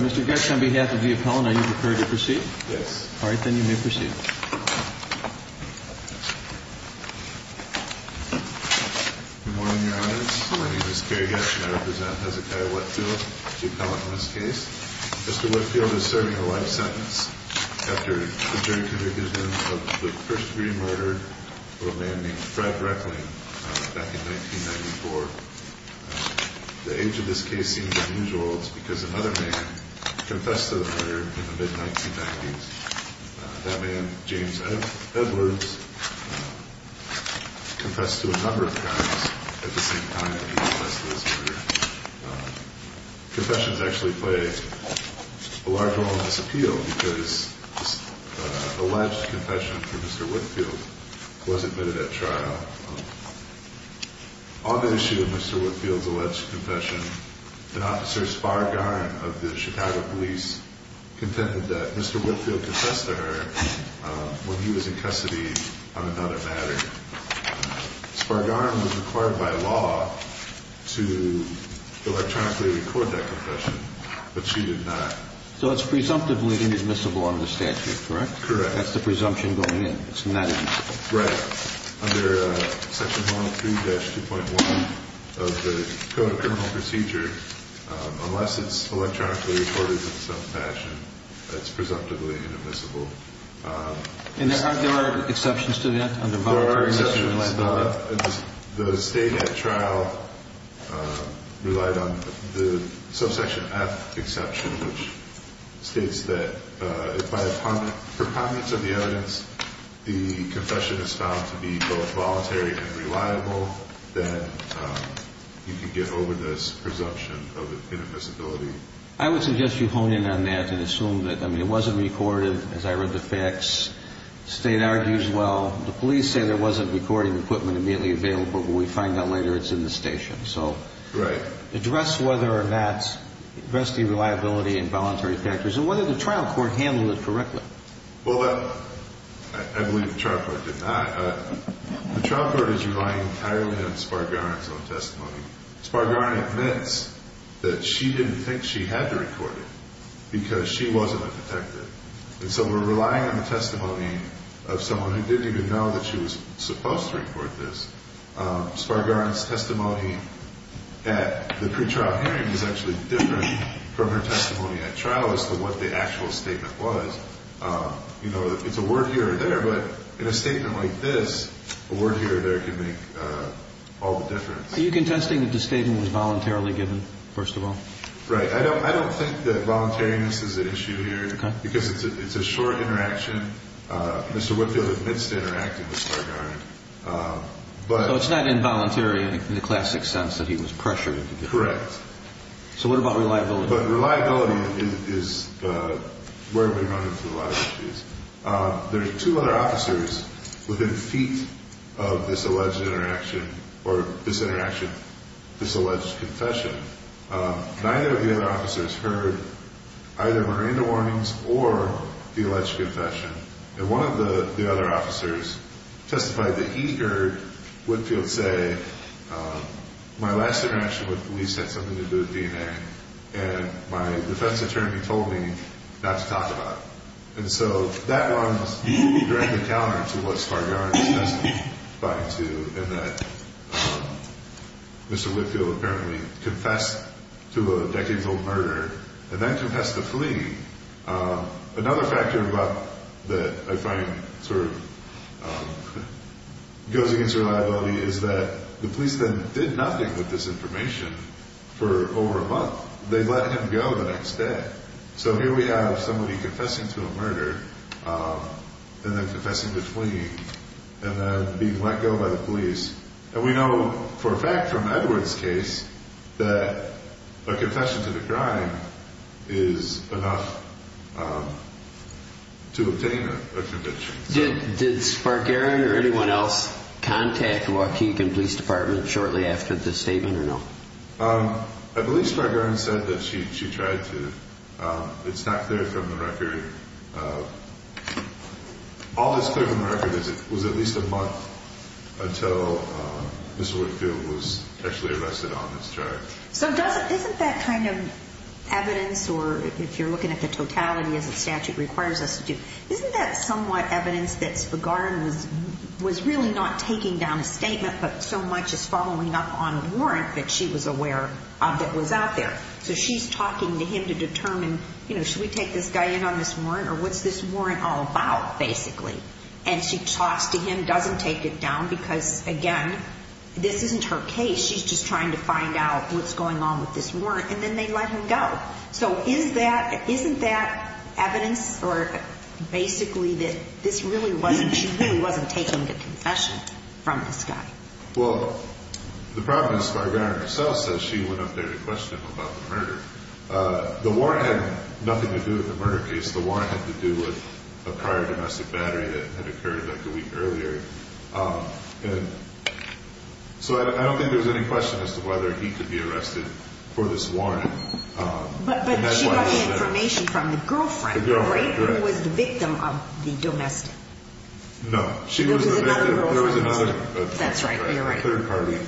Mr. Getsch, on behalf of the appellant, are you prepared to proceed? Yes. All right, then you may proceed. Good morning, Your Honors. My name is Gary Getsch, and I represent Hezekiah Whitfield, the appellant in this case. Mr. Whitfield is serving a life sentence after the jury convicted him of the first-degree murder of a man named Fred Reckling back in 1994. The age of this case seems unusual. It's because another man confessed to the murder in the mid-1990s. That man, James Edwards, confessed to a number of crimes at the same time that he confessed to this murder. Confessions actually play a large role in this appeal because this alleged confession from Mr. Whitfield was admitted at trial. On the issue of Mr. Whitfield's alleged confession, an officer, Spar Garn, of the Chicago police, contended that Mr. Whitfield confessed to her when he was in custody on another matter. Spar Garn was required by law to electronically record that confession, but she did not. So it's presumptively indismissible under the statute, correct? Correct. That's the presumption going in. It's not indiscipline. Right. Under Section 103-2.1 of the Code of Criminal Procedure, unless it's electronically recorded in some fashion, it's presumptively inadmissible. And there are exceptions to that under Voluntary Institutional Ability? The State at trial relied on the Subsection F exception, which states that if by a precommence of the evidence, the confession is found to be both voluntary and reliable, then you can get over this presumption of inadmissibility. I would suggest you hone in on that and assume that, I mean, it wasn't recorded. As I read the facts, the State argues, well, the police say there wasn't recording equipment immediately available, but we find out later it's in the station. So address whether or not, address the reliability and voluntary factors, and whether the trial court handled it correctly. Well, I believe the trial court did not. The trial court is relying entirely on Spar Garn's own testimony. Spar Garn admits that she didn't think she had to record it because she wasn't a detective. And so we're relying on the testimony of someone who didn't even know that she was supposed to report this. Spar Garn's testimony at the pretrial hearing is actually different from her testimony at trial as to what the actual statement was. You know, it's a word here or there, but in a statement like this, a word here or there can make all the difference. Are you contesting that the statement was voluntarily given, first of all? Right. I don't think that voluntariness is an issue here because it's a short interaction. Mr. Whitfield admits to interacting with Spar Garn. So it's not involuntary in the classic sense that he was pressured into doing it. Correct. So what about reliability? But reliability is where we run into a lot of issues. There's two other officers within feet of this alleged interaction or this interaction, this alleged confession. Neither of the other officers heard either Miranda warnings or the alleged confession. And one of the other officers testified that he heard Whitfield say, my last interaction with police had something to do with DNA, and my defense attorney told me not to talk about it. And so that runs directly counter to what Spar Garn testified to in that Mr. Whitfield apparently confessed to a decades-old murder and then confessed to fleeing. Another factor that I find sort of goes against reliability is that the police then did nothing with this information for over a month. They let him go the next day. So here we have somebody confessing to a murder and then confessing to fleeing and then being let go by the police. And we know for a fact from Edward's case that a confession to the crime is enough to obtain a conviction. Did Spar Garn or anyone else contact Waukegan Police Department shortly after this statement or no? I believe Spar Garn said that she tried to. It's not clear from the record. All that's clear from the record is it was at least a month until Mr. Whitfield was actually arrested on this charge. So isn't that kind of evidence, or if you're looking at the totality as the statute requires us to do, isn't that somewhat evidence that Spar Garn was really not taking down a statement but so much as following up on a warrant that she was aware of that was out there? So she's talking to him to determine, you know, should we take this guy in on this warrant or what's this warrant all about, basically? And she talks to him, doesn't take it down because, again, this isn't her case. She's just trying to find out what's going on with this warrant, and then they let him go. So isn't that evidence or basically that this really wasn'tóshe really wasn't taking the confession from this guy? Well, the problem is Spar Garn herself says she went up there to question him about the murder. The warrant had nothing to do with the murder case. The warrant had to do with a prior domestic battery that had occurred like a week earlier. And so I don't think there was any question as to whether he could be arrested for this warrant. But she got the information from the girlfriend, right, who was the victim of the domestic? No. There was another girlfriend? There was anotheró That's right, you're right. Third party.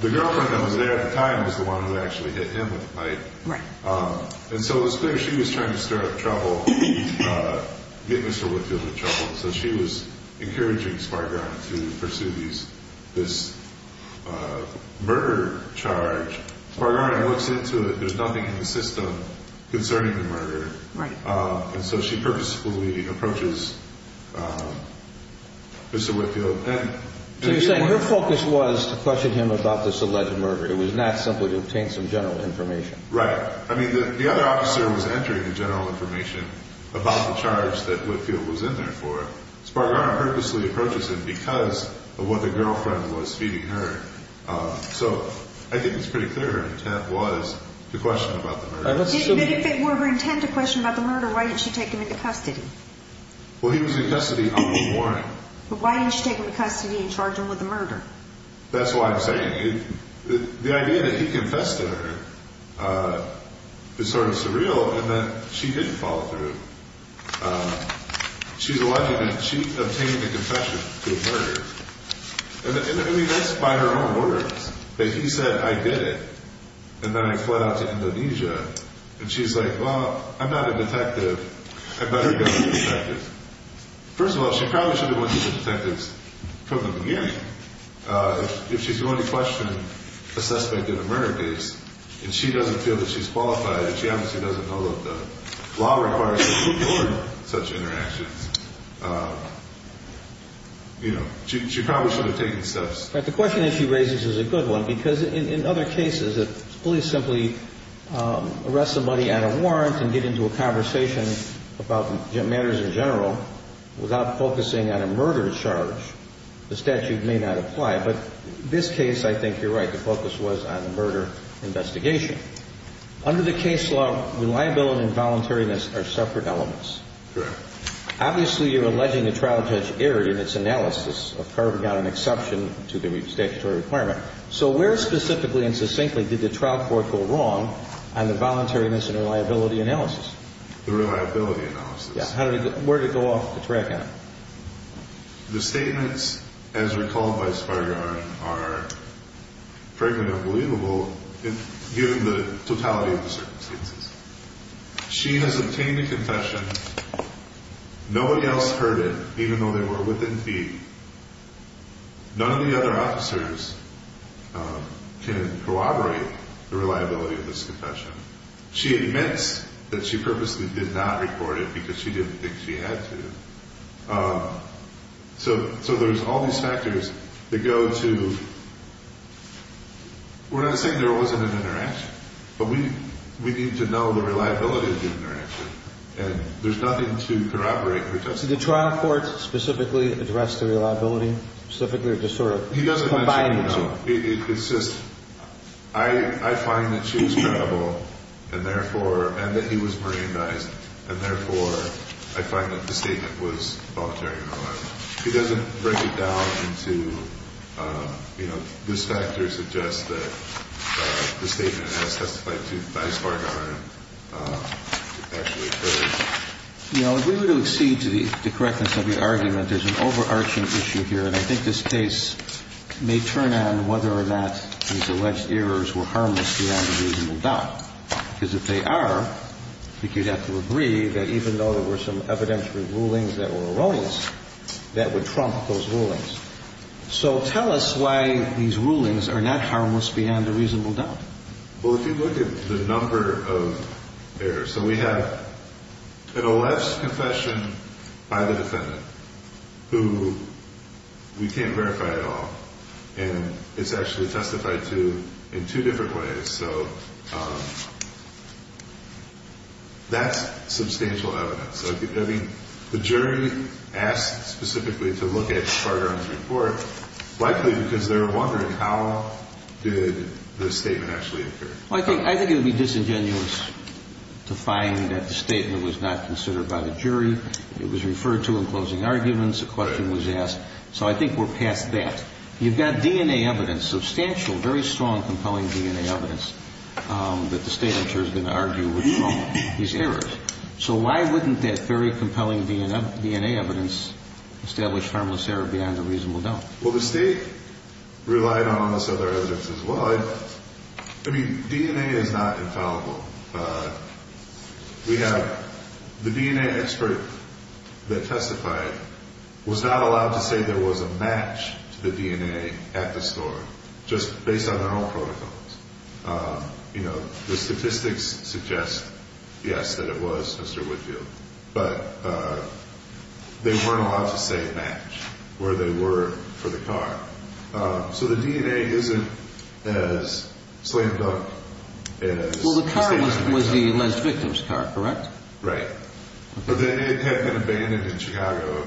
The girlfriend that was there at the time was the one who actually hit him with the pipe. Right. And so it was clear she was trying to stir up trouble, getting Mr. Woodfield in trouble. So she was encouraging Spar Garn to pursue this murder charge. Spar Garn looks into it. There's nothing in the system concerning the murder. Right. And so she purposefully approaches Mr. Woodfield. So you're saying her focus was to question him about this alleged murder. It was not simply to obtain some general information. Right. I mean, the other officer was entering the general information about the charge that Woodfield was in there for. Spar Garn purposely approaches him because of what the girlfriend was feeding her. So I think it's pretty clear her intent was to question about the murder. But if it were her intent to question about the murder, why didn't she take him into custody? Well, he was in custody on the warrant. But why didn't she take him into custody and charge him with the murder? That's what I'm saying. The idea that he confessed to her is sort of surreal in that she didn't follow through. She's alleged that she obtained a confession to the murder. I mean, that's by her own words, that he said, I did it. And then I fled out to Indonesia. And she's like, well, I'm not a detective. I better go to the detectives. First of all, she probably should have went to the detectives from the beginning. If she's going to question a suspect in a murder case, and she doesn't feel that she's qualified, and she obviously doesn't know that the law requires her to record such interactions, you know, she probably should have taken steps. But the question that she raises is a good one. Because in other cases, if police simply arrest somebody on a warrant and get into a conversation about matters in general without focusing on a murder charge, the statute may not apply. But in this case, I think you're right. The focus was on the murder investigation. Under the case law, reliability and voluntariness are separate elements. Correct. Obviously, you're alleging the trial judge erred in its analysis of carving out an exception to the statutory requirement. So where specifically and succinctly did the trial court go wrong on the voluntariness and reliability analysis? The reliability analysis. Yeah. Where did it go off the track on? The statements, as recalled by Spargan, are frankly unbelievable given the totality of the circumstances. She has obtained a confession. Nobody else heard it, even though they were within feet. None of the other officers can corroborate the reliability of this confession. She admits that she purposely did not record it because she didn't think she had to. So there's all these factors that go to – we're not saying there wasn't an interaction, but we need to know the reliability of the interaction, and there's nothing to corroborate her testimony. Did the trial court specifically address the reliability, specifically or just sort of combine the two? He doesn't mention, no. It's just – I find that she was credible and therefore – and that he was merendized and therefore I find that the statement was voluntary and reliable. He doesn't break it down into, you know, this factor suggests that the statement as testified to by Spargan actually occurred. You know, if we were to accede to the correctness of your argument, there's an overarching issue here, and I think this case may turn on whether or not these alleged errors were harmless beyond a reasonable doubt. Because if they are, I think you'd have to agree that even though there were some evidentiary rulings that were erroneous, that would trump those rulings. So tell us why these rulings are not harmless beyond a reasonable doubt. Well, if you look at the number of errors – So we have an alleged confession by the defendant who we can't verify at all, and it's actually testified to in two different ways. So that's substantial evidence. I mean, the jury asked specifically to look at Spargan's report, likely because they were wondering how did the statement actually occur. Well, I think it would be disingenuous to find that the statement was not considered by the jury. It was referred to in closing arguments. A question was asked. So I think we're past that. You've got DNA evidence, substantial, very strong, compelling DNA evidence, that the State in turn is going to argue would trump these errors. So why wouldn't that very compelling DNA evidence establish harmless error beyond a reasonable doubt? Well, the State relied on all this other evidence as well. I mean, DNA is not infallible. We have the DNA expert that testified was not allowed to say there was a match to the DNA at the store, just based on their own protocols. You know, the statistics suggest, yes, that it was Mr. Woodfield, but they weren't allowed to say match where they were for the car. So the DNA isn't as slammed up as the car. Well, the car was the alleged victim's car, correct? Right. But then it had been abandoned in Chicago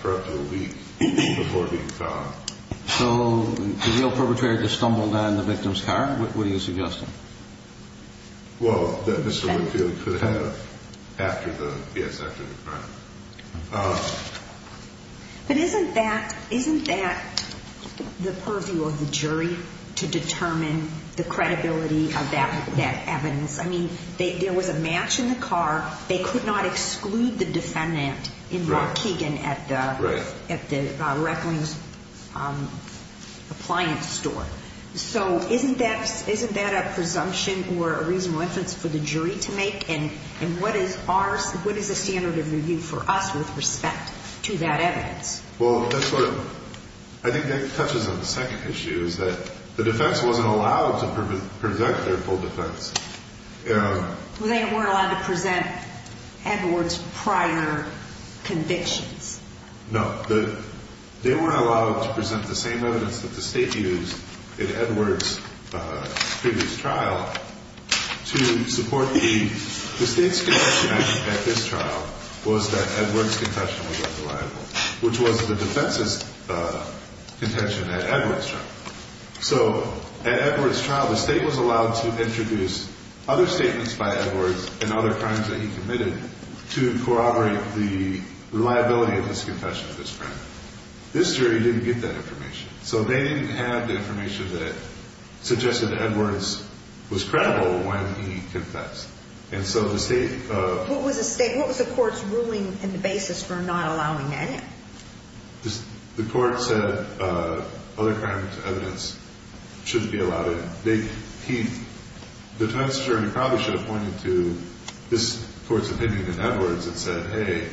for up to a week before being found. So the real perpetrator just stumbled on the victim's car? What are you suggesting? Well, that Mr. Woodfield could have after the crime. But isn't that the purview of the jury to determine the credibility of that evidence? I mean, there was a match in the car. They could not exclude the defendant in Bar-Keegan at the Reckling's appliance store. So isn't that a presumption or a reasonable inference for the jury to make? And what is a standard of review for us with respect to that evidence? Well, I think that touches on the second issue, is that the defense wasn't allowed to present their full defense. They weren't allowed to present Edwards' prior convictions? No. They weren't allowed to present the same evidence that the state used in Edwards' previous trial to support the state's conviction at this trial was that Edwards' confession was unreliable, which was the defense's contention at Edwards' trial. So at Edwards' trial, the state was allowed to introduce other statements by Edwards and other crimes that he committed to corroborate the reliability of his confession of this crime. This jury didn't get that information. So they didn't have the information that suggested Edwards was credible when he confessed. And so the state of… What was the court's ruling and the basis for not allowing that in? The court said other crime evidence shouldn't be allowed in. The defense jury probably should have pointed to this court's opinion in Edwards and said, hey,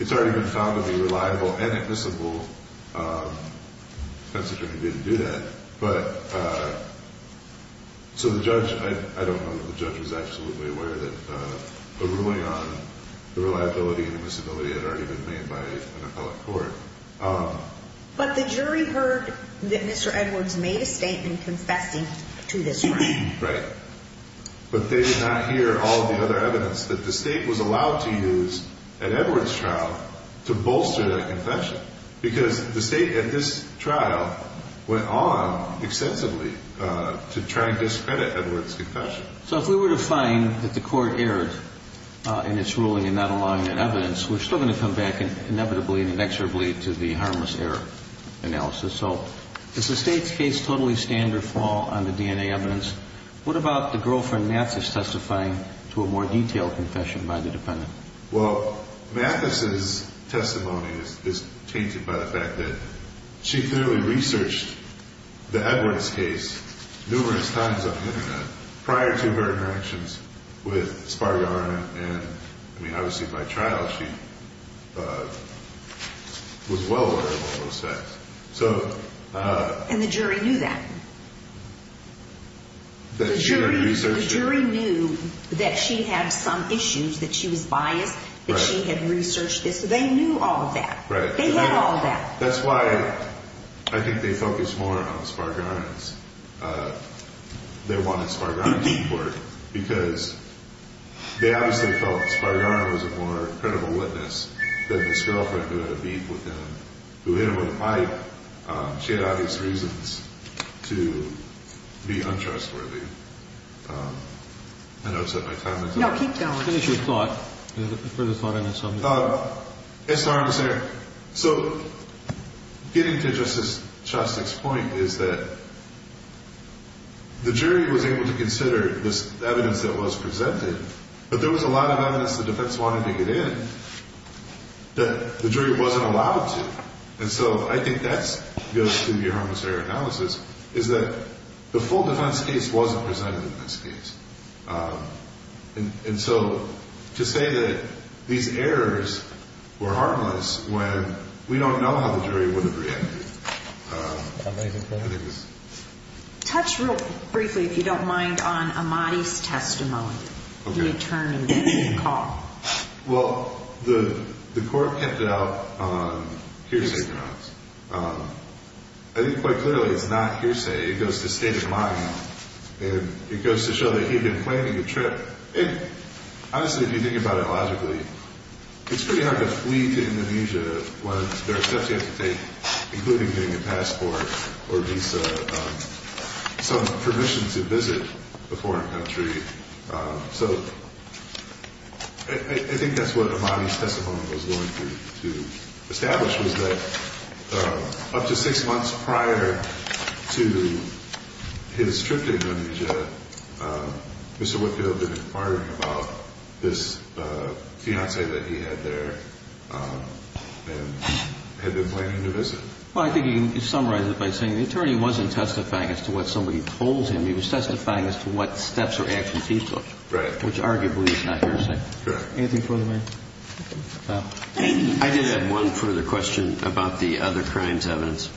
it's already been found to be reliable and admissible. The defense jury didn't do that. So the judge, I don't know that the judge was absolutely aware that a ruling on the reliability and admissibility had already been made by an appellate court. But the jury heard that Mr. Edwards made a statement confessing to this crime. Right. But they did not hear all the other evidence that the state was allowed to use at Edwards' trial to bolster that confession because the state at this trial went on extensively to try to discredit Edwards' confession. So if we were to find that the court erred in its ruling in not allowing that evidence, we're still going to come back inevitably and inexorably to the harmless error analysis. So is the state's case totally standard fall on the DNA evidence? What about the girlfriend, Mathis, testifying to a more detailed confession by the defendant? Well, Mathis' testimony is tainted by the fact that she clearly researched the Edwards case numerous times on the Internet prior to her interactions with Spargar and, I mean, obviously by trial she was well aware of all those facts. And the jury knew that? The jury researched it. The jury knew that she had some issues, that she was biased, that she had researched this. They knew all of that. Right. They had all of that. That's why I think they focused more on Spargar's. They wanted Spargar's report because they obviously felt Spargar was a more credible witness than this girlfriend who had a beef with him, who hit him with a pipe. She had obvious reasons to be untrustworthy. I know I've set my time. No, keep going. Finish your thought. Further thought on this subject. Yes, Your Honor. So getting to Justice Shostak's point is that the jury was able to consider this evidence that was presented, but there was a lot of evidence the defense wanted to get in that the jury wasn't allowed to. And so I think that goes to the harmless error analysis, is that the full defense case wasn't presented in this case. And so to say that these errors were harmless when we don't know how the jury would have reacted. Touch real briefly, if you don't mind, on Amati's testimony. Return of the call. Well, the court kept it out on hearsay grounds. I think quite clearly it's not hearsay. It goes to state of the mind, and it goes to show that he had been planning a trip. Honestly, if you think about it logically, it's pretty hard to flee to Indonesia when there are steps you have to take, including getting a passport or visa, some permission to visit a foreign country. So I think that's what Amati's testimony was going to establish, was that up to six months prior to his trip to Indonesia, Mr. Whitfield had been inquiring about this fiancée that he had there and had been planning to visit. Well, I think you can summarize it by saying the attorney wasn't testifying as to what somebody told him. He was testifying as to what steps or actions he took, which arguably is not hearsay. Correct. Anything further? I did have one further question about the other crimes evidence.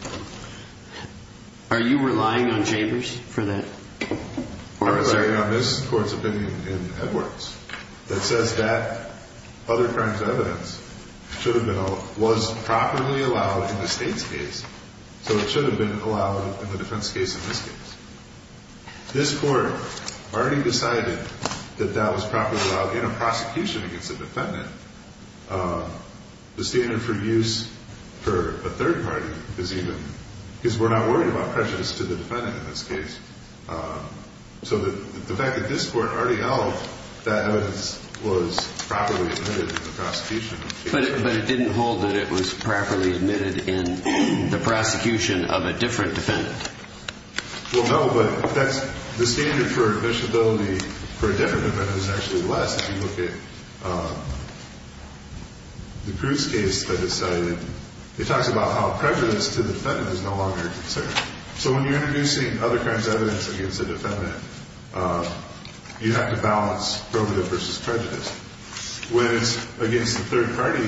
Are you relying on Chambers for that? I'm relying on this court's opinion in Edwards that says that other crimes evidence should have been or was properly allowed in the state's case, so it should have been allowed in the defense case in this case. This court already decided that that was properly allowed in a prosecution against a defendant. The standard for use for a third party is even, because we're not worried about prejudice to the defendant in this case. So the fact that this court already held that evidence was properly admitted in the prosecution. But it didn't hold that it was properly admitted in the prosecution of a different defendant. Well, no, but that's the standard for admissibility for a different defendant is actually less if you look at the Cruz case that is cited. It talks about how prejudice to the defendant is no longer a concern. So when you're introducing other crimes evidence against a defendant, you have to balance probative versus prejudice. When it's against a third party,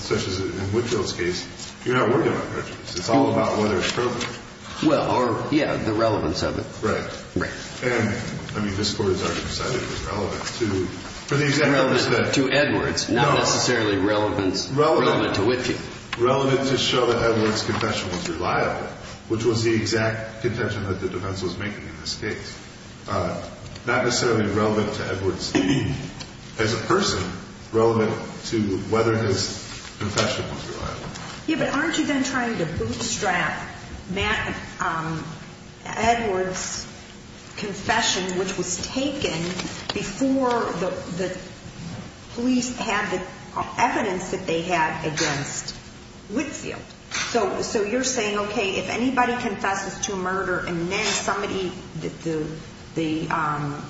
such as in Whitfield's case, you're not worried about prejudice. It's all about whether it's probative. Well, or, yeah, the relevance of it. Right. And, I mean, this court has already decided it was relevant to, for the exact purpose that. To Edwards. No. Not necessarily relevant to Whitfield. Relevant to show that Edwards' confession was reliable, which was the exact contention that the defense was making in this case. Not necessarily relevant to Edwards as a person, relevant to whether his confession was reliable. Yeah, but aren't you then trying to bootstrap Edwards' confession, which was taken before the police had the evidence that they had against Whitfield? So you're saying, okay, if anybody confesses to a murder and then somebody, the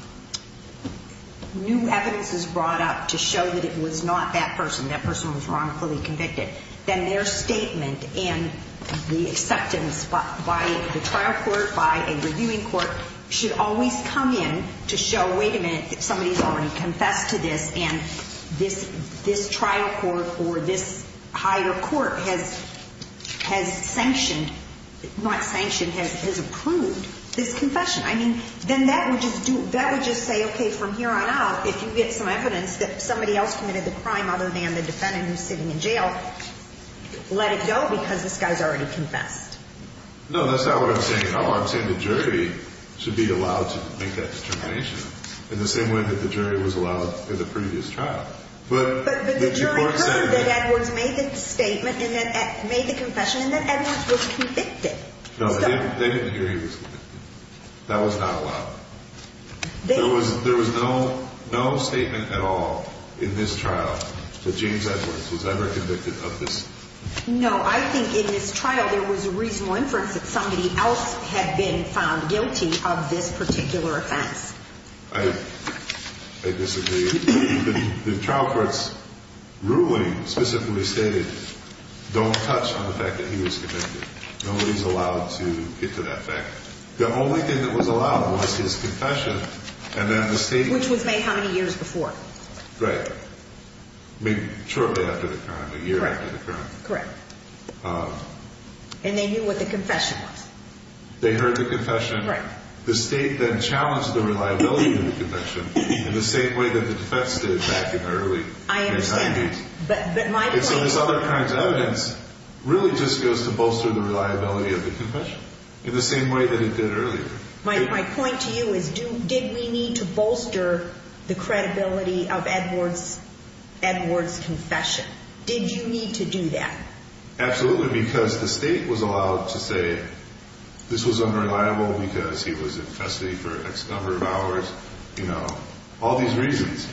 new evidence is brought up to show that it was not that person, that person was wrongfully convicted, then their statement and the acceptance by the trial court, by a reviewing court, should always come in to show, wait a minute, somebody's already confessed to this, and this trial court or this higher court has sanctioned, not sanctioned, has approved this confession. I mean, then that would just do, that would just say, okay, from here on out, if you get some evidence that somebody else committed the crime other than the defendant who's sitting in jail, let it go because this guy's already confessed. No, that's not what I'm saying at all. I'm saying the jury should be allowed to make that determination in the same way that the jury was allowed in the previous trial. But the jury heard that Edwards made the statement and then made the confession and that Edwards was convicted. No, they didn't hear he was convicted. That was not allowed. There was no statement at all in this trial that James Edwards was ever convicted of this. No, I think in this trial there was a reasonable inference that somebody else had been found guilty of this particular offense. I disagree. The trial court's ruling specifically stated don't touch on the fact that he was convicted. Nobody's allowed to get to that fact. The only thing that was allowed was his confession, and then the state. Which was made how many years before? Right, shortly after the crime, a year after the crime. Correct. And they knew what the confession was. They heard the confession. Right. The state then challenged the reliability of the confession in the same way that the defense did back in the early 90s. I understand. And so this other kind of evidence really just goes to bolster the reliability of the confession in the same way that it did earlier. My point to you is did we need to bolster the credibility of Edwards' confession? Did you need to do that? Absolutely, because the state was allowed to say this was unreliable because he was in custody for X number of hours. You know, all these reasons.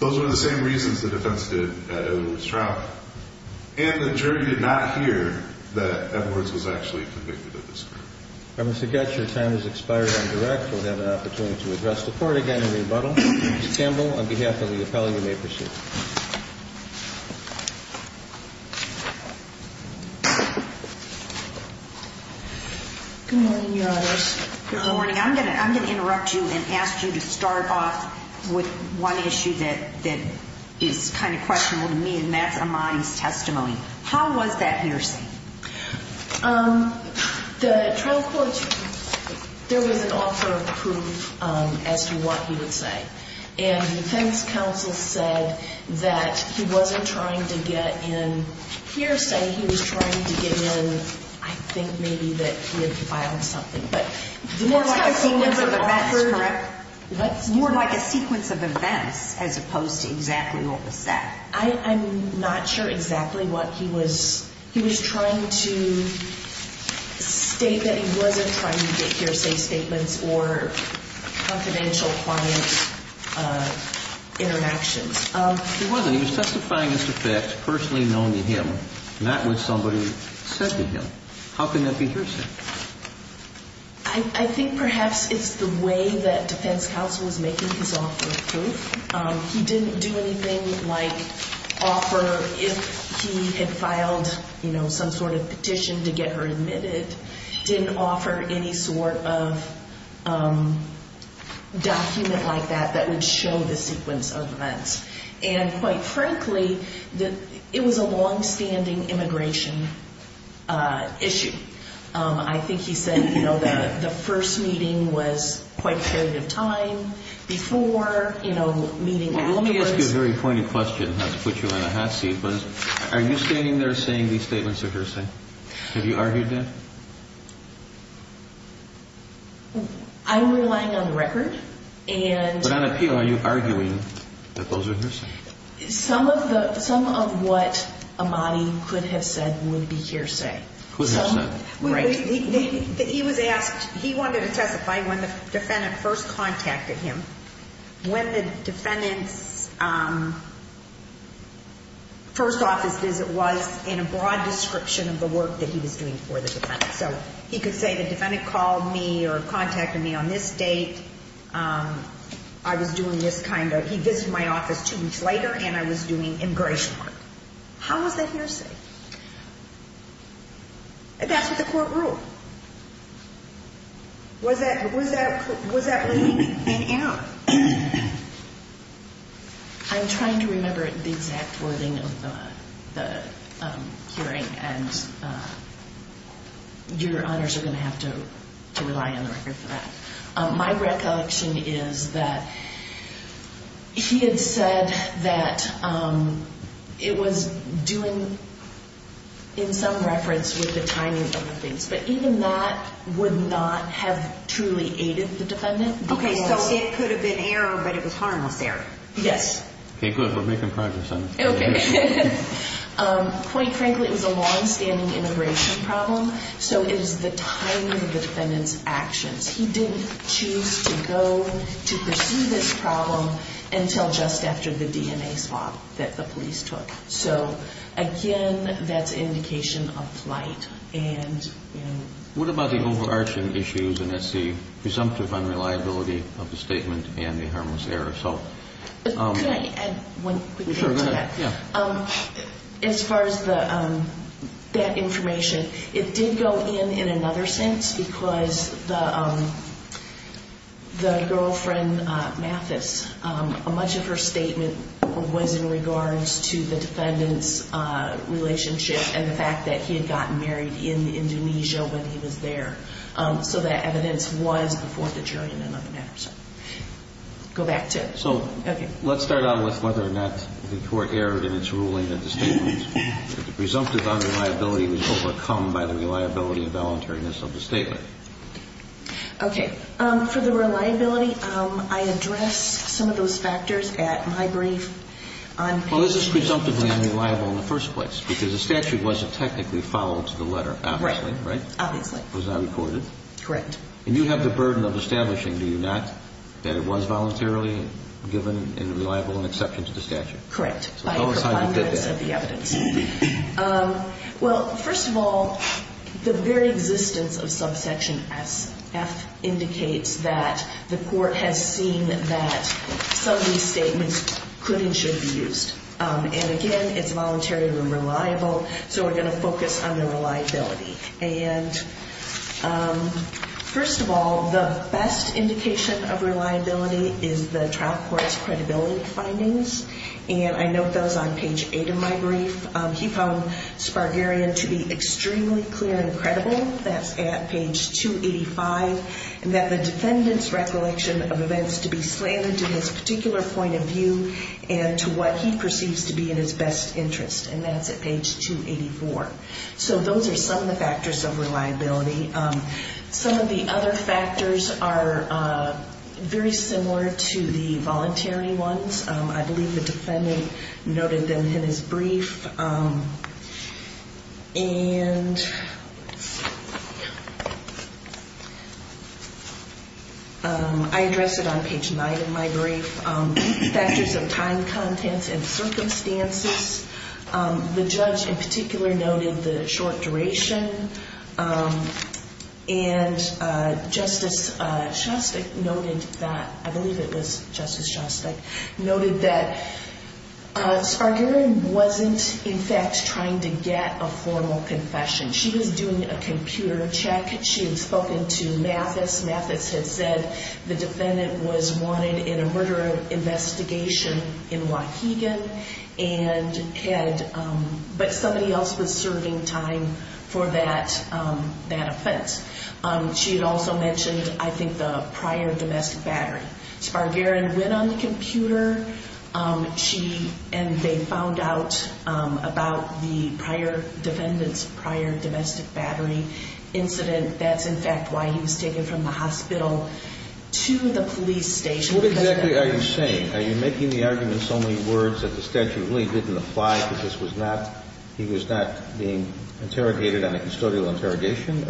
Those were the same reasons the defense did at Edwards' trial. And the jury did not hear that Edwards was actually convicted of this crime. I must forget your time has expired on direct. We'll have an opportunity to address the court again in rebuttal. Ms. Campbell, on behalf of the appellee, you may proceed. Good morning, Your Honors. Good morning. I'm going to interrupt you and ask you to start off with one issue that is kind of questionable to me, and that's Ahmadi's testimony. How was that hearsay? The trial court, there was an offer of proof as to what he would say. And the defense counsel said that he wasn't trying to get in hearsay. He was trying to get in, I think, maybe that he had filed something. More like a sequence of events, correct? More like a sequence of events as opposed to exactly what was said. I'm not sure exactly what he was trying to state that he wasn't trying to get hearsay statements or confidential, quiet interactions. He wasn't. He was testifying as to facts personally known to him, not what somebody said to him. How can that be hearsay? I think perhaps it's the way that defense counsel was making his offer of proof. He didn't do anything like offer if he had filed, you know, some sort of petition to get her admitted. Didn't offer any sort of document like that that would show the sequence of events. And quite frankly, it was a longstanding immigration issue. I think he said, you know, the first meeting was quite a period of time. Before, you know, meeting afterwards. Let me ask you a very pointy question, not to put you in a hot seat, but are you standing there saying these statements are hearsay? Have you argued that? I'm relying on the record. But on appeal, are you arguing that those are hearsay? Some of what Ahmadi could have said would be hearsay. Could have said. He was asked, he wanted to testify when the defendant first contacted him. When the defendant's first office visit was in a broad description of the work that he was doing for the defendant. So he could say the defendant called me or contacted me on this date. I was doing this kind of, he visited my office two weeks later and I was doing immigration work. How was that hearsay? And that's what the court ruled. Was that, was that, was that really in and out? I'm trying to remember the exact wording of the hearing and your honors are going to have to rely on the record for that. My recollection is that he had said that it was doing, in some reference, with the timing of the things. But even that would not have truly aided the defendant. Okay, so it could have been error, but it was harmless error. Yes. Okay, good. We're making progress on this. Quite frankly, it was a longstanding immigration problem. So it is the timing of the defendant's actions. He didn't choose to go to pursue this problem until just after the DNA swap that the police took. So again, that's indication of flight. What about the overarching issues, and that's the presumptive unreliability of the statement and the harmless error? Can I add one quick thing to that? Sure, go ahead. As far as that information, it did go in in another sense because the girlfriend, Mathis, much of her statement was in regards to the defendant's relationship and the fact that he had gotten married in Indonesia when he was there. So that evidence was before the jury in that matter. Go back to it. So let's start out with whether or not the court erred in its ruling that the presumptive unreliability was overcome by the reliability and voluntariness of the statement. Okay. For the reliability, I addressed some of those factors at my brief. Well, this is presumptively unreliable in the first place because the statute wasn't technically followed to the letter, obviously, right? Right, obviously. It was not recorded. Correct. And you have the burden of establishing, do you not, that it was voluntarily given in a reliable and exception to the statute? Correct. So tell us how you did that. By a preponderance of the evidence. Well, first of all, the very existence of subsection S.F. indicates that the court has seen that some of these statements could and should be used. And again, it's voluntarily reliable, so we're going to focus on the reliability. And first of all, the best indication of reliability is the trial court's credibility findings. And I note those on page 8 of my brief. He found Spargarian to be extremely clear and credible. That's at page 285. And that the defendant's recollection of events to be slanted to his particular point of view and to what he perceives to be in his best interest. And that's at page 284. So those are some of the factors of reliability. Some of the other factors are very similar to the voluntary ones. I believe the defendant noted them in his brief. And I address it on page 9 of my brief. Factors of time, contents, and circumstances. The judge in particular noted the short duration. And Justice Shostak noted that, I believe it was Justice Shostak, noted that Spargarian wasn't in fact trying to get a formal confession. She was doing a computer check. She had spoken to Mathis. Mathis had said the defendant was wanted in a murder investigation in Wauhegan. But somebody else was serving time for that offense. She had also mentioned, I think, the prior domestic battery. Spargarian went on the computer. And they found out about the defendant's prior domestic battery incident. That's, in fact, why he was taken from the hospital to the police station. What exactly are you saying? Are you making the argument so many words that the statute really didn't apply, because he was not being interrogated on a custodial interrogation?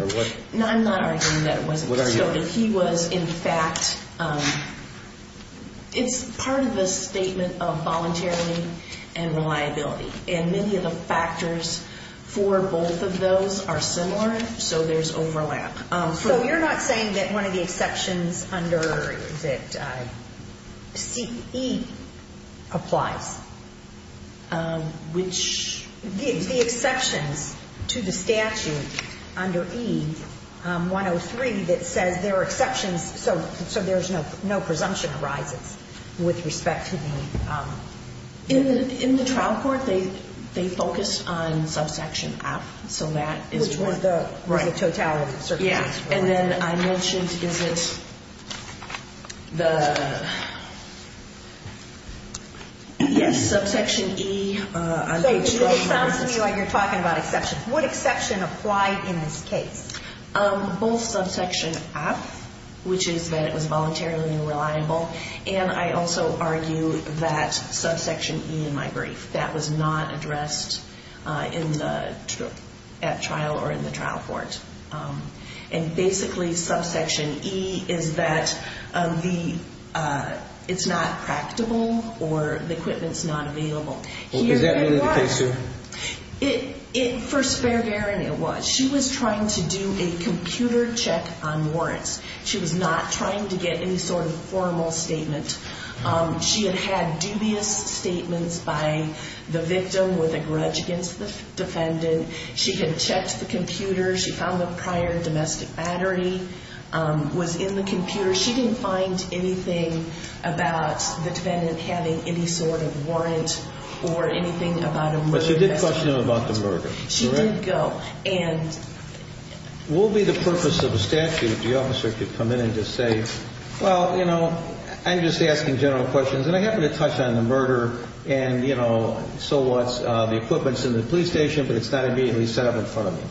No, I'm not arguing that it wasn't. What are you arguing? He was, in fact, it's part of a statement of voluntary and reliability. And many of the factors for both of those are similar, so there's overlap. So you're not saying that one of the exceptions under that CE applies, which the exceptions to the statute under E-103 that says there are exceptions, so there's no presumption arises with respect to the- In the trial court, they focus on subsection F. So that is one. Which one, the totality? Yeah, and then I mentioned, is it the- Yes, subsection E- So it sounds to me like you're talking about exceptions. What exception applied in this case? Both subsection F, which is that it was voluntarily and reliable, and I also argue that subsection E in my brief, that was not addressed at trial or in the trial court. And basically, subsection E is that it's not practical or the equipment's not available. Is that really the case here? For Spare Garen, it was. She was trying to do a computer check on warrants. She was not trying to get any sort of formal statement. She had had dubious statements by the victim with a grudge against the defendant. She had checked the computer. She found the prior domestic battery was in the computer. She didn't find anything about the defendant having any sort of warrant or anything about a murder. But she did question him about the murder, correct? She did go, and- What would be the purpose of a statute if the officer could come in and just say, Well, you know, I'm just asking general questions, and I happen to touch on the murder and, you know, so what's the equipment's in the police station, but it's not immediately set up in front of me.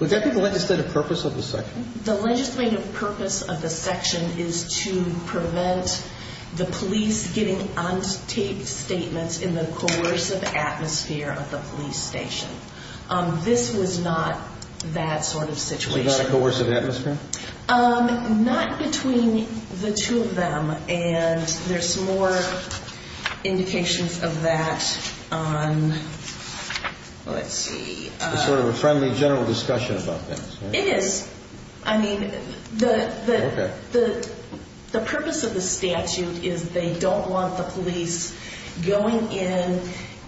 Would that be the legislative purpose of the section? The legislative purpose of the section is to prevent the police getting on tape statements in the coercive atmosphere of the police station. This was not that sort of situation. So not a coercive atmosphere? Not between the two of them, and there's more indications of that on- Let's see. It's sort of a friendly general discussion about this, right? It is. I mean, the purpose of the statute is they don't want the police going in,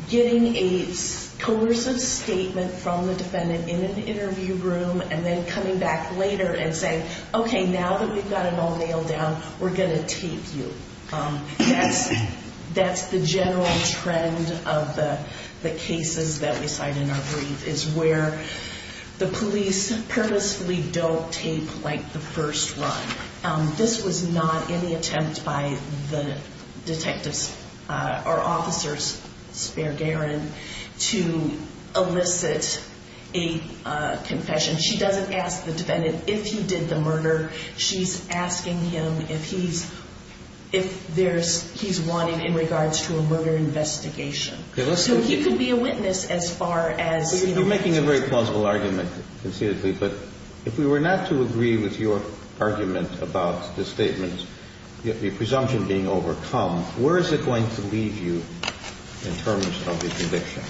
getting a coercive statement from the defendant in an interview room and then coming back later and saying, Okay, now that we've got it all nailed down, we're going to tape you. That's the general trend of the cases that we cite in our brief, is where the police purposefully don't tape like the first run. This was not any attempt by the detectives or officers, Spare Garin, to elicit a confession. She doesn't ask the defendant if he did the murder. She's asking him if he's wanting in regards to a murder investigation. So he could be a witness as far as- You're making a very plausible argument conceitedly, but if we were not to agree with your argument about the statements, the presumption being overcome, where is it going to leave you in terms of the conviction?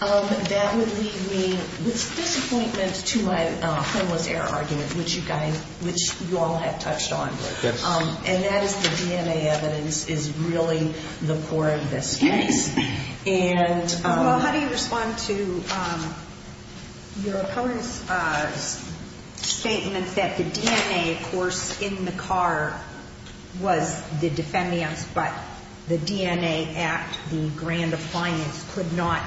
That would leave me with disappointment to my homeless error argument, which you all have touched on. And that is the DNA evidence is really the core of this case. Well, how do you respond to your opponent's statement that the DNA, of course, in the car was the defendant's, but the DNA at the grand appliance could not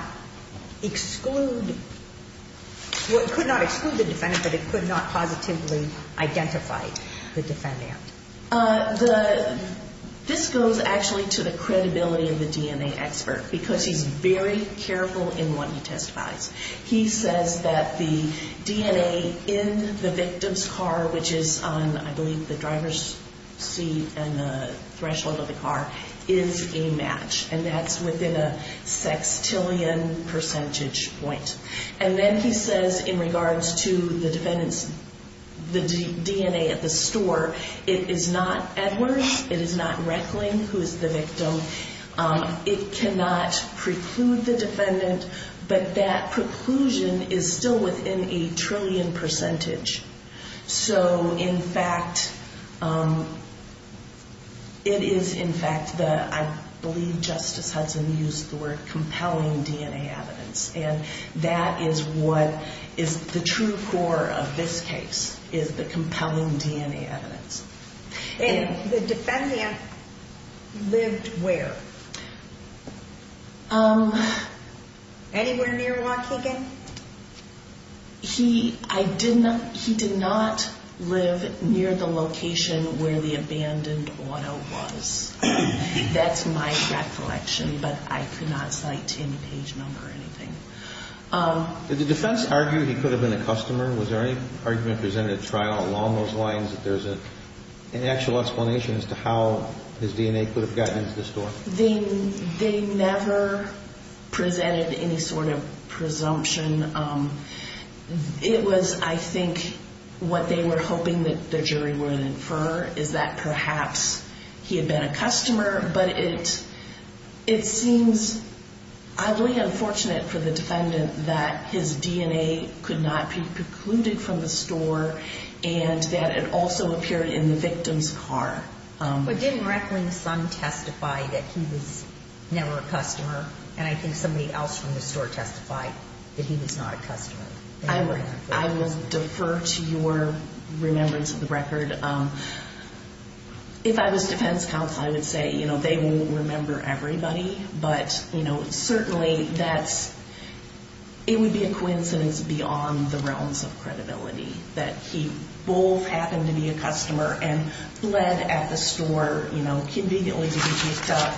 exclude the defendant, but it could not positively identify the defendant? This goes actually to the credibility of the DNA expert, because he's very careful in what he testifies. He says that the DNA in the victim's car, which is on, I believe, the driver's seat and the threshold of the car, is a match. And that's within a sextillion percentage point. And then he says in regards to the defendant's DNA at the store, it is not Edwards, it is not Reckling, who is the victim. It cannot preclude the defendant, but that preclusion is still within a trillion percentage. So, in fact, it is, in fact, I believe Justice Hudson used the word compelling DNA evidence. And that is what is the true core of this case, is the compelling DNA evidence. And the defendant lived where? Anywhere near Waukegan? He did not live near the location where the abandoned auto was. That's my recollection, but I could not cite any page number or anything. Did the defense argue he could have been a customer? Was there any argument presented at trial along those lines that there's an actual explanation as to how his DNA could have gotten into the store? They never presented any sort of presumption. It was, I think, what they were hoping that the jury would infer, is that perhaps he had been a customer. But it seems oddly unfortunate for the defendant that his DNA could not be precluded from the store and that it also appeared in the victim's car. But didn't Reckling's son testify that he was never a customer? And I think somebody else from the store testified that he was not a customer. I will defer to your remembrance of the record. If I was defense counsel, I would say, you know, they won't remember everybody. But, you know, certainly that's, it would be a coincidence beyond the realms of credibility that he both happened to be a customer and bled at the store, you know, conveniently to be picked up.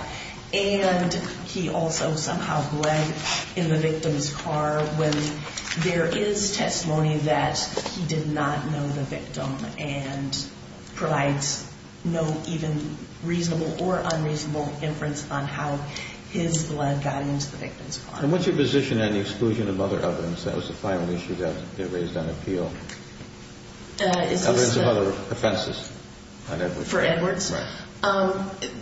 And he also somehow bled in the victim's car when there is testimony that he did not know the victim and provides no even reasonable or unreasonable inference on how his blood got into the victim's car. And what's your position on the exclusion of other evidence? That was the final issue that got raised on appeal. Other than some other offenses on Edwards. For Edwards? Right.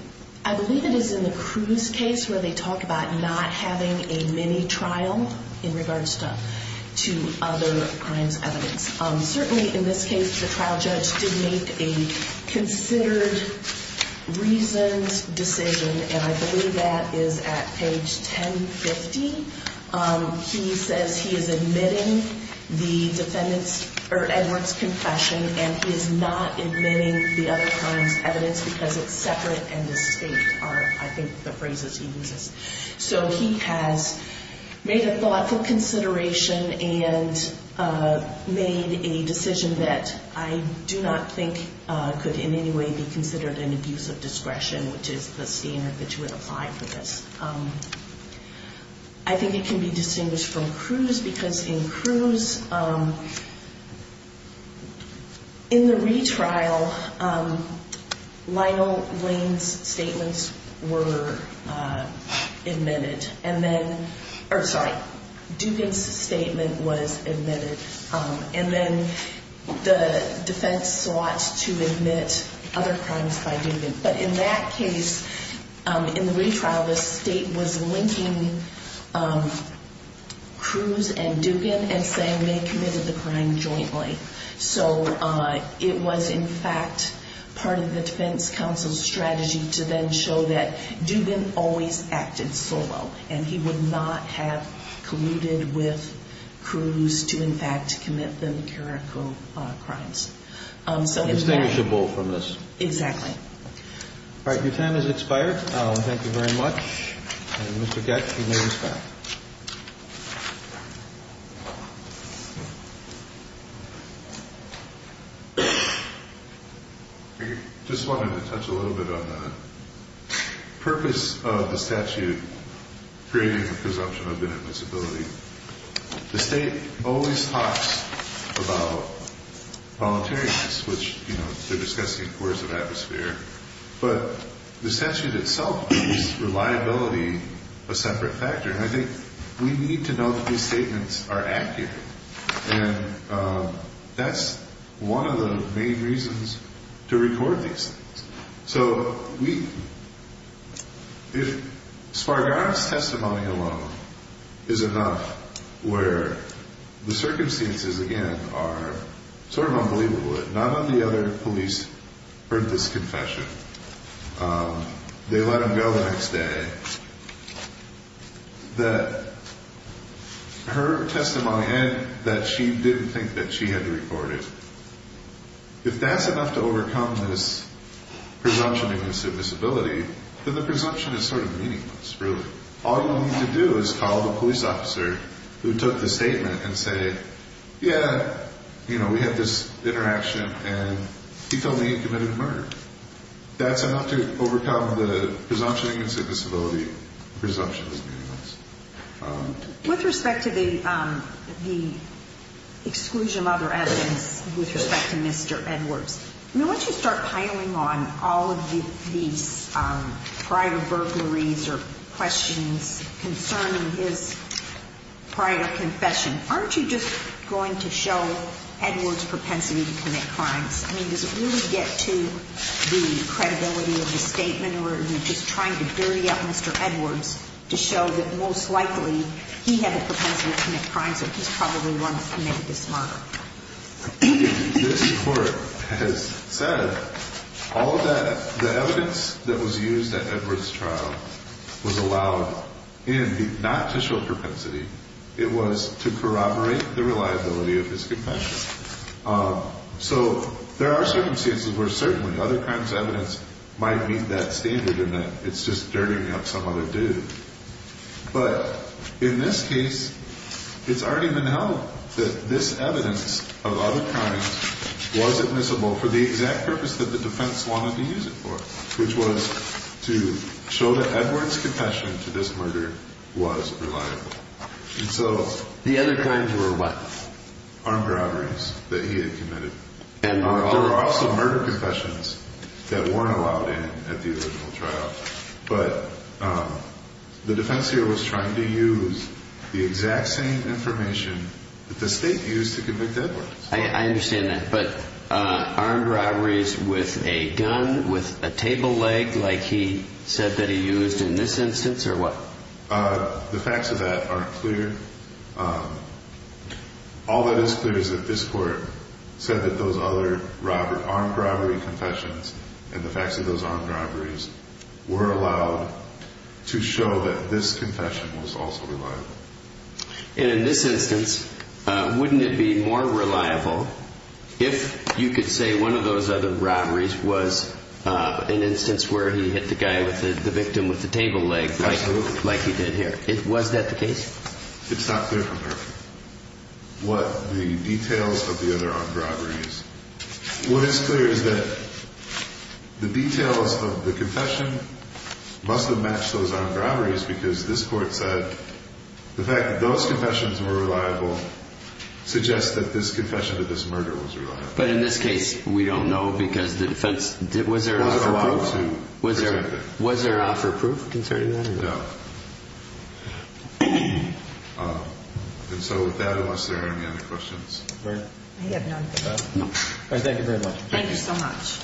I believe it is in the Cruz case where they talk about not having a mini trial in regards to other crimes evidence. Certainly in this case, the trial judge did make a considered, reasoned decision, and I believe that is at page 1050. He says he is admitting the defendant's, or Edwards' confession, and he is not admitting the other crimes evidence because it's separate and distinct are, I think, the phrases he uses. So he has made a thoughtful consideration and made a decision that I do not think could in any way be considered an abuse of discretion, which is the standard that you would apply for this. I think it can be distinguished from Cruz because in Cruz, in the retrial, Lionel Wayne's statements were admitted, and then, or sorry, Dugan's statement was admitted, and then the defense sought to admit other crimes by Dugan. But in that case, in the retrial, the state was linking Cruz and Dugan and saying they committed the crime jointly. So it was, in fact, part of the defense counsel's strategy to then show that Dugan always acted solo, and he would not have colluded with Cruz to, in fact, commit the numerical crimes. So in fact ‑‑ Distinguishable from this. Exactly. All right. Your time has expired. Thank you very much. And Mr. Getch, you may rest. I just wanted to touch a little bit on the purpose of the statute creating the presumption of inadmissibility. The state always talks about voluntariness, which, you know, they're discussing coercive atmosphere, but the statute itself gives reliability a separate factor, and I think we need to know that these statements are accurate. And that's one of the main reasons to record these things. So if Spargana's testimony alone is enough where the circumstances, again, are sort of unbelievable, none of the other police heard this confession, they let him go the next day, that her testimony and that she didn't think that she had to record it, if that's enough to overcome this presumption of inadmissibility, then the presumption is sort of meaningless, really. All you need to do is call the police officer who took the statement and say, yeah, you know, we had this interaction, and he told me he committed a murder. That's enough to overcome the presumption of inadmissibility. The presumption is meaningless. With respect to the exclusion of other evidence with respect to Mr. Edwards, I mean, once you start piling on all of these prior burglaries or questions concerning his prior confession, aren't you just going to show Edwards' propensity to commit crimes? I mean, does it really get to the credibility of the statement, or are you just trying to dirty up Mr. Edwards to show that most likely he had the propensity to commit crimes and he's probably the one who committed this murder? This Court has said all of that, the evidence that was used at Edwards' trial was allowed not to show propensity. It was to corroborate the reliability of his confession. So there are circumstances where certainly other kinds of evidence might meet that standard and that it's just dirtying up some other dude. But in this case, it's already been held that this evidence of other crimes was admissible for the exact purpose that the defense wanted to use it for, which was to show that Edwards' confession to this murder was reliable. And so the other crimes were what? Armed robberies that he had committed. There were also murder confessions that weren't allowed in at the original trial. But the defense here was trying to use the exact same information that the state used to convict Edwards. I understand that. But armed robberies with a gun, with a table leg like he said that he used in this instance, or what? The facts of that aren't clear. All that is clear is that this court said that those other armed robbery confessions and the facts of those armed robberies were allowed to show that this confession was also reliable. And in this instance, wouldn't it be more reliable if you could say one of those other robberies was an instance where he hit the guy with the victim with the table leg like he did here? Was that the case? It's not clear from there what the details of the other armed robberies. What is clear is that the details of the confession must have matched those armed robberies because this court said the fact that those confessions were reliable suggests that this confession to this murder was reliable. But in this case, we don't know because the defense didn't allow to present it. Was there offer of proof concerning that? No. And so with that, are there any other questions? I have none. All right. Thank you very much. Thank you so much.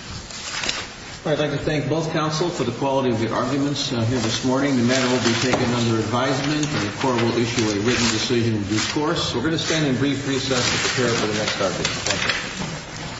I'd like to thank both counsel for the quality of the arguments here this morning. The matter will be taken under advisement and the court will issue a written decision in due course. We're going to spend a brief recess to prepare for the next argument. Thank you.